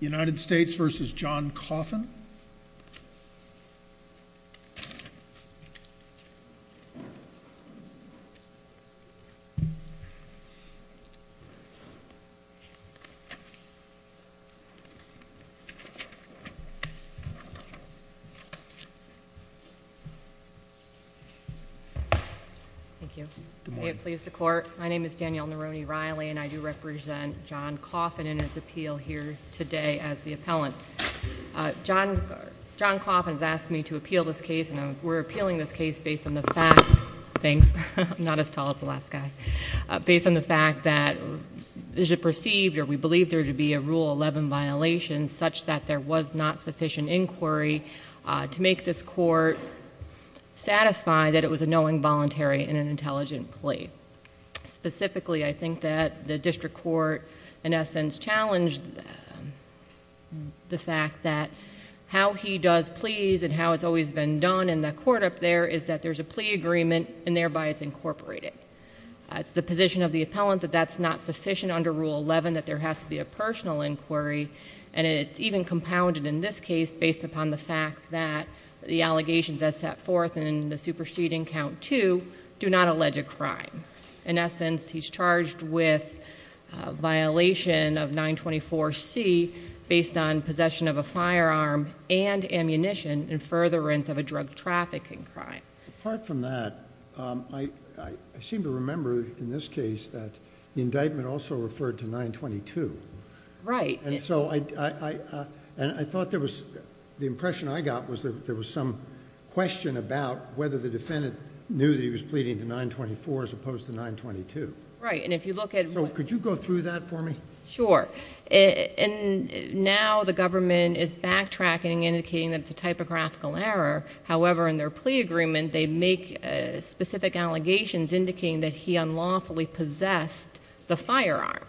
United States v. John Coffin Thank you Good morning My name is Danielle Nerone-Riley and I do represent John Coffin in his appeal here today as the appellant John Coffin has asked me to appeal this case and we're appealing this case based on the fact Thanks, I'm not as tall as the last guy Based on the fact that it is perceived or we believe there to be a Rule 11 violation such that there was not sufficient inquiry to make this court satisfy that it was a knowing voluntary and an intelligent plea Specifically I think that the district court in essence challenged the fact that how he does pleas and how it's always been done in the court up there is that there's a plea agreement and thereby it's incorporated It's the position of the appellant that that's not sufficient under Rule 11 that there has to be a personal inquiry and it's even compounded in this case based upon the fact that the allegations as set forth in the superseding count 2 do not allege a crime. In essence he's charged with a violation of 924 C based on possession of a firearm and ammunition in furtherance of a drug trafficking crime Apart from that, I seem to remember in this case that the indictment also referred to 922 Right And so I thought there was, the impression I got was that there was some question about whether the defendant knew that he was pleading to 924 as opposed to 922 Right, and if you look at So could you go through that for me? Sure, and now the government is backtracking indicating that it's a typographical error However in their plea agreement they make specific allegations indicating that he unlawfully possessed the firearm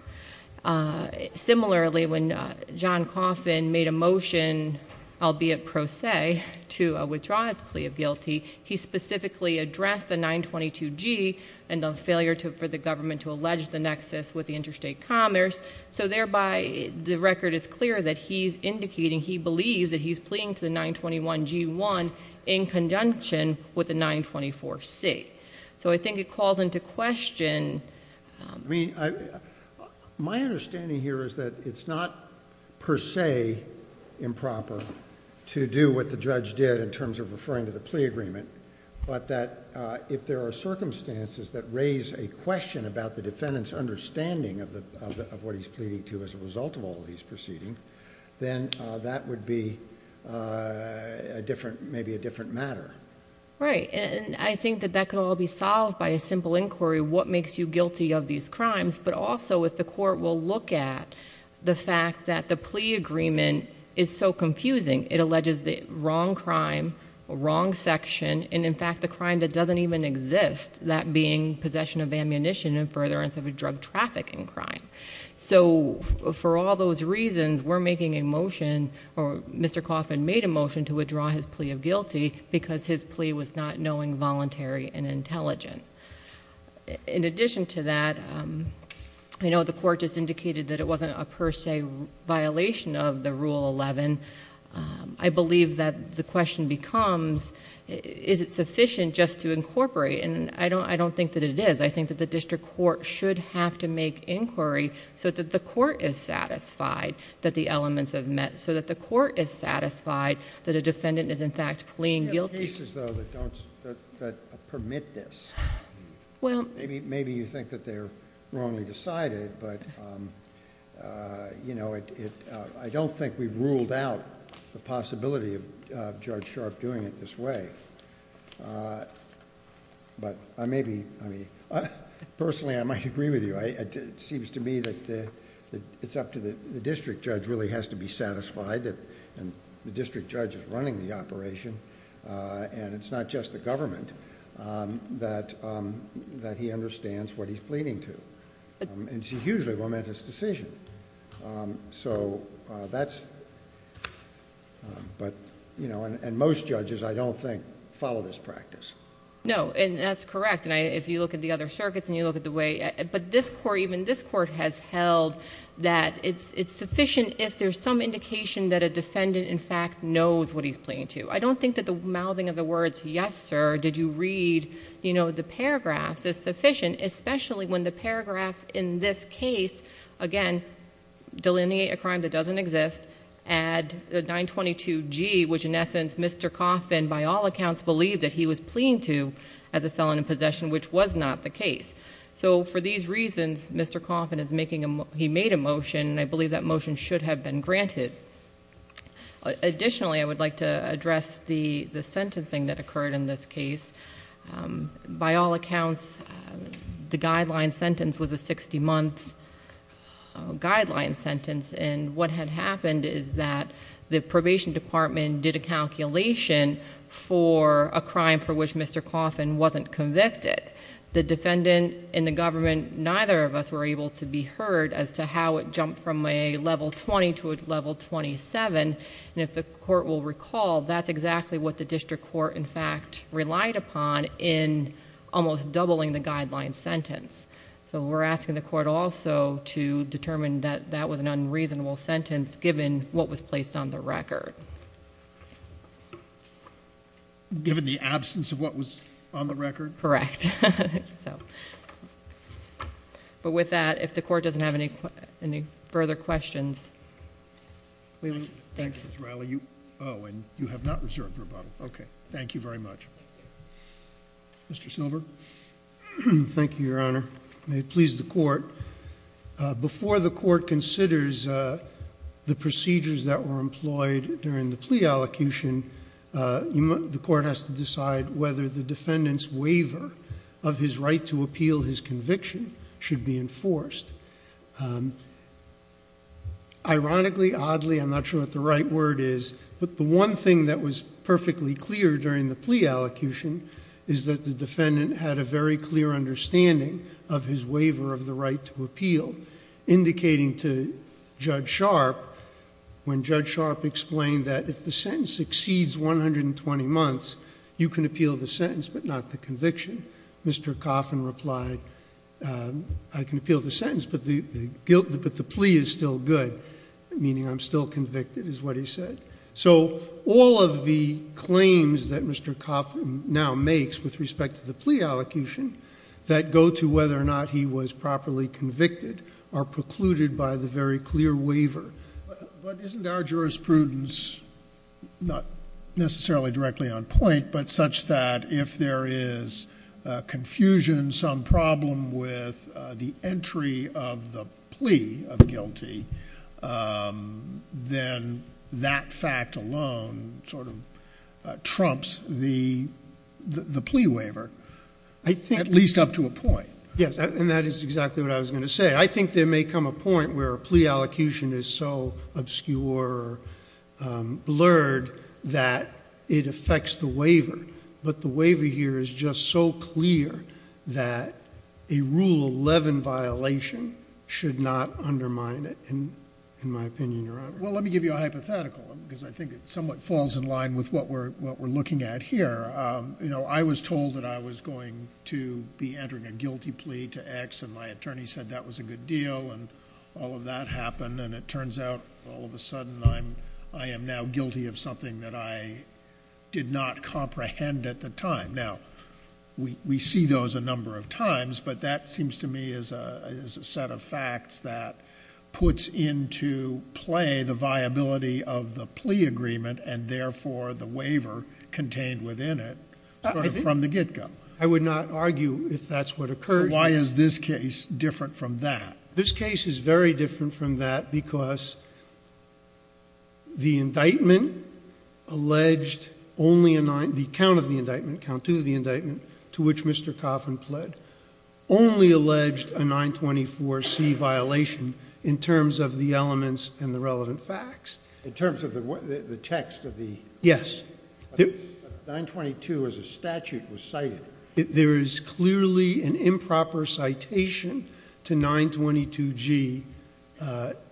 Similarly when John Coffin made a motion, albeit pro se, to withdraw his plea of guilty He specifically addressed the 922 G and the failure for the government to allege the nexus with the interstate commerce So thereby the record is clear that he's indicating he believes that he's pleading to the 921 G1 in conjunction with the 924 C So I think it calls into question My understanding here is that it's not per se improper to do what the judge did in terms of referring to the plea agreement But that if there are circumstances that raise a question about the defendant's understanding of what he's pleading to as a result of all these proceedings Then that would be maybe a different matter Right, and I think that that could all be solved by a simple inquiry What makes you guilty of these crimes? But also if the court will look at the fact that the plea agreement is so confusing It alleges the wrong crime, wrong section, and in fact the crime that doesn't even exist That being possession of ammunition and furtherance of a drug traffic in crime So for all those reasons we're making a motion Or Mr. Coffin made a motion to withdraw his plea of guilty because his plea was not knowing voluntary and intelligent In addition to that, you know the court just indicated that it wasn't a per se violation of the Rule 11 I believe that the question becomes is it sufficient just to incorporate And I don't think that it is I think that the district court should have to make inquiry So that the court is satisfied that the elements have met So that the court is satisfied that a defendant is in fact pleading guilty There are cases though that permit this Maybe you think that they're wrongly decided But I don't think we've ruled out the possibility of Judge Sharp doing it this way Personally I might agree with you It seems to me that it's up to the district judge really has to be satisfied And the district judge is running the operation And it's not just the government that he understands what he's pleading to And it's a hugely momentous decision And most judges I don't think follow this practice No and that's correct And if you look at the other circuits and you look at the way But this court even this court has held that it's sufficient If there's some indication that a defendant in fact knows what he's pleading to I don't think that the mouthing of the words Yes sir did you read you know the paragraphs is sufficient Especially when the paragraphs in this case again delineate a crime that doesn't exist Add the 922 G which in essence Mr. Coffin by all accounts believed that he was pleading to As a felon in possession which was not the case So for these reasons Mr. Coffin is making him he made a motion And I believe that motion should have been granted Additionally I would like to address the the sentencing that occurred in this case By all accounts the guideline sentence was a 60 month guideline sentence And what had happened is that the probation department did a calculation For a crime for which Mr. Coffin wasn't convicted The defendant in the government neither of us were able to be heard As to how it jumped from a level 20 to a level 27 And if the court will recall that's exactly what the district court in fact relied upon In almost doubling the guideline sentence So we're asking the court also to determine that that was an unreasonable sentence Given what was placed on the record Given the absence of what was on the record Correct But with that if the court doesn't have any further questions Thank you Oh and you have not reserved your bottle okay thank you very much Mr. Silver Thank you your honor may it please the court Before the court considers the procedures that were employed during the plea allocution The court has to decide whether the defendant's waiver Of his right to appeal his conviction should be enforced Ironically oddly I'm not sure what the right word is But the one thing that was perfectly clear during the plea allocution Is that the defendant had a very clear understanding of his waiver of the right to appeal Indicating to judge sharp When judge sharp explained that if the sentence exceeds 120 months You can appeal the sentence but not the conviction Mr. Coffin replied I can appeal the sentence but the guilt that the plea is still good Meaning I'm still convicted is what he said So all of the claims that Mr. Coffin now makes with respect to the plea allocation That go to whether or not he was properly convicted Are precluded by the very clear waiver But isn't our jurisprudence Not necessarily directly on point but such that if there is Confusion some problem with the entry of the plea of guilty Then that fact alone sort of trumps the plea waiver At least up to a point Yes and that is exactly what I was going to say I think there may come a point where a plea allocation is so obscure Blurred that it affects the waiver But the waiver here is just so clear that a rule 11 violation Should not undermine it in my opinion Well let me give you a hypothetical Because I think it somewhat falls in line with what we're looking at here You know I was told that I was going to be entering a guilty plea to X And my attorney said that was a good deal And all of that happened and it turns out all of a sudden I am now guilty of something that I did not comprehend at the time Now we see those a number of times But that seems to me is a set of facts that puts into play The viability of the plea agreement And therefore the waiver contained within it Sort of from the get-go I would not argue if that's what occurred So why is this case different from that? This case is very different from that Because the indictment alleged only a nine The count of the indictment, count two of the indictment To which Mr. Coffin pled Only alleged a 924C violation In terms of the elements and the relevant facts In terms of the text of the Yes 922 as a statute was cited There is clearly an improper citation to 922G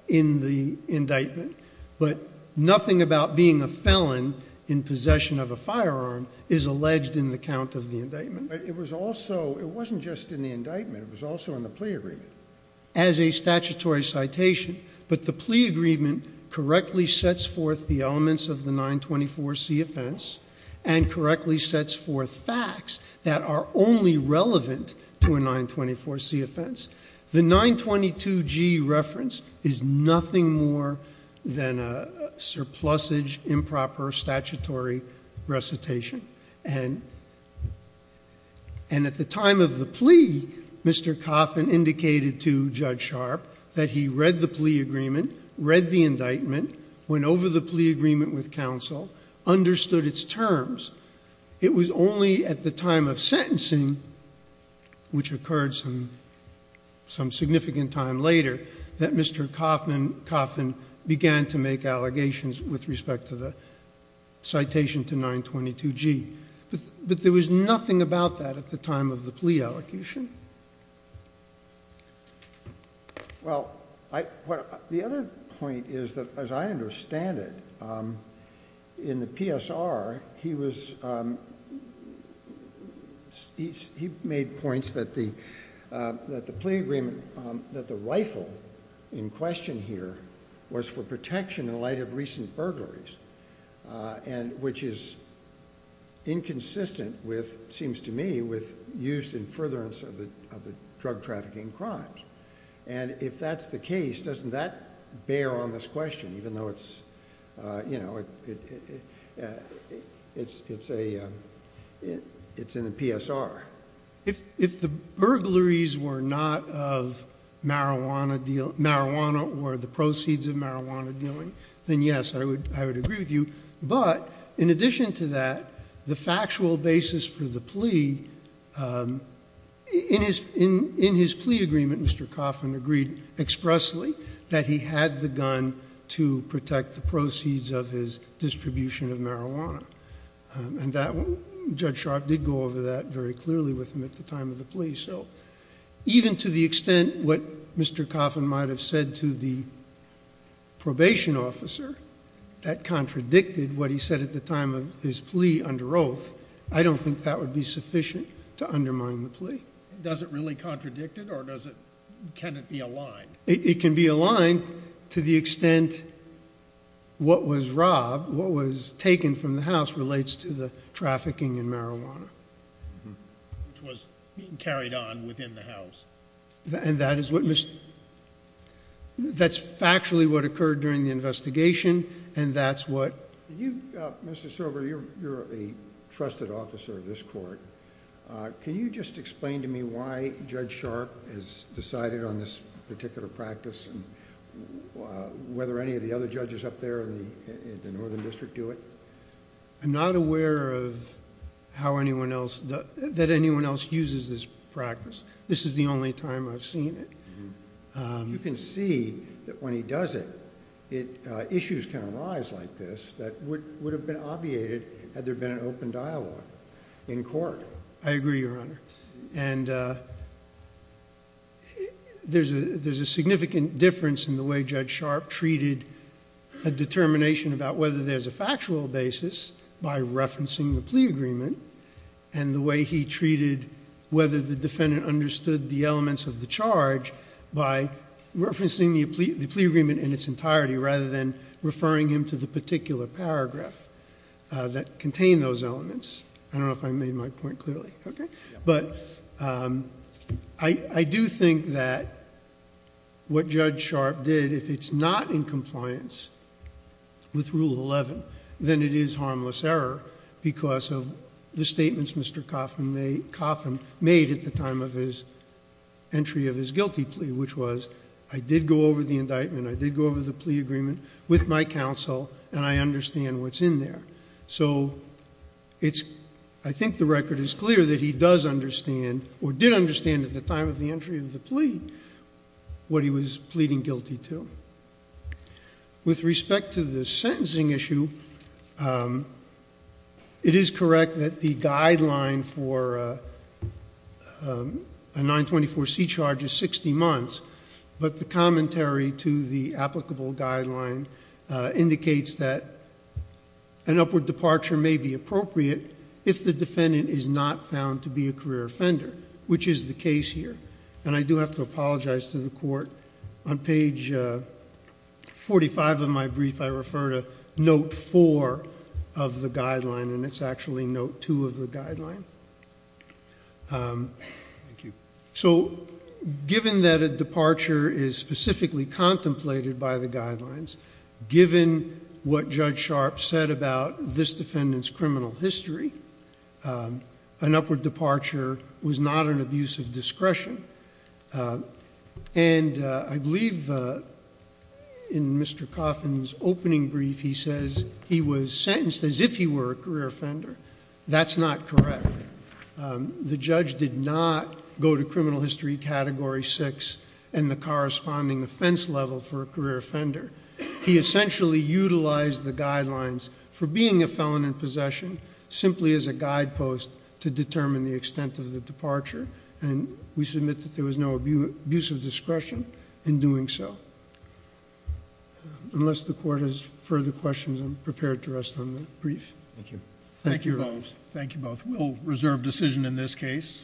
In the indictment But nothing about being a felon in possession of a firearm Is alleged in the count of the indictment But it was also, it wasn't just in the indictment It was also in the plea agreement As a statutory citation But the plea agreement correctly sets forth the elements of the 924C offense And correctly sets forth facts that are only relevant to a 924C offense The 922G reference is nothing more than a surplusage Of improper statutory recitation And at the time of the plea Mr. Coffin indicated to Judge Sharp That he read the plea agreement Read the indictment Went over the plea agreement with counsel Understood its terms It was only at the time of sentencing Which occurred some significant time later That Mr. Coffin began to make allegations with respect to the Citation to 922G But there was nothing about that at the time of the plea allocation Well, the other point is that as I understand it In the PSR He was He made points that the The plea agreement, that the rifle in question here Was for protection in light of recent burglaries And which is inconsistent with Seems to me with use and furtherance of the drug trafficking crimes And if that's the case, doesn't that bear on this question Even though it's, you know It's a It's in the PSR If the burglaries were not of Marijuana or the proceeds of marijuana dealing Then yes, I would agree with you But in addition to that The factual basis for the plea In his plea agreement Mr. Coffin agreed expressly Distribution of marijuana And that, Judge Sharp did go over that very clearly with him at the time of the plea So even to the extent what Mr. Coffin might have said to the Probation officer That contradicted what he said at the time of his plea under oath I don't think that would be sufficient to undermine the plea Does it really contradict it or does it Can it be aligned? It can be aligned to the extent What was robbed, what was taken from the house Relates to the trafficking in marijuana Which was carried on within the house And that is what That's factually what occurred during the investigation And that's what Mr. Silver, you're a trusted officer of this court Can you just explain to me why Judge Sharp Has decided on this particular practice Whether any of the other judges up there in the northern district do it I'm not aware of How anyone else, that anyone else uses this practice This is the only time I've seen it You can see that when he does it Issues can arise like this That would have been obviated had there been an open dialogue In court I agree, Your Honor And There's a significant difference in the way Judge Sharp treated A determination about whether there's a factual basis By referencing the plea agreement And the way he treated Whether the defendant understood the elements of the charge By referencing the plea agreement in its entirety Rather than referring him to the particular paragraph That contained those elements I don't know if I made my point clearly But I do think that What Judge Sharp did, if it's not in compliance With Rule 11 Then it is harmless error Because of the statements Mr. Coffin made At the time of his entry of his guilty plea Which was, I did go over the indictment I did go over the plea agreement With my counsel And I understand what's in there So I think the record is clear That he does understand Or did understand at the time of the entry of the plea What he was pleading guilty to With respect to the sentencing issue It is correct that the guideline for A 924C charge is 60 months But the commentary to the applicable guideline Indicates that an upward departure may be appropriate If the defendant is not found to be a career offender Which is the case here And I do have to apologize to the court On page 45 of my brief I refer to note 4 of the guideline And it's actually note 2 of the guideline So, given that a departure Is specifically contemplated by the guidelines Given what Judge Sharp said about This defendant's criminal history An upward departure was not an abuse of discretion And I believe in Mr. Coffin's opening brief He says he was sentenced as if he were a career offender That's not correct The judge did not go to criminal history category 6 And the corresponding offense level for a career offender He essentially utilized the guidelines For being a felon in possession Simply as a guide post To determine the extent of the departure And we submit that there was no abuse of discretion In doing so Unless the court has further questions I'm prepared to rest on the brief Thank you Thank you both Thank you both We'll reserve decision in this case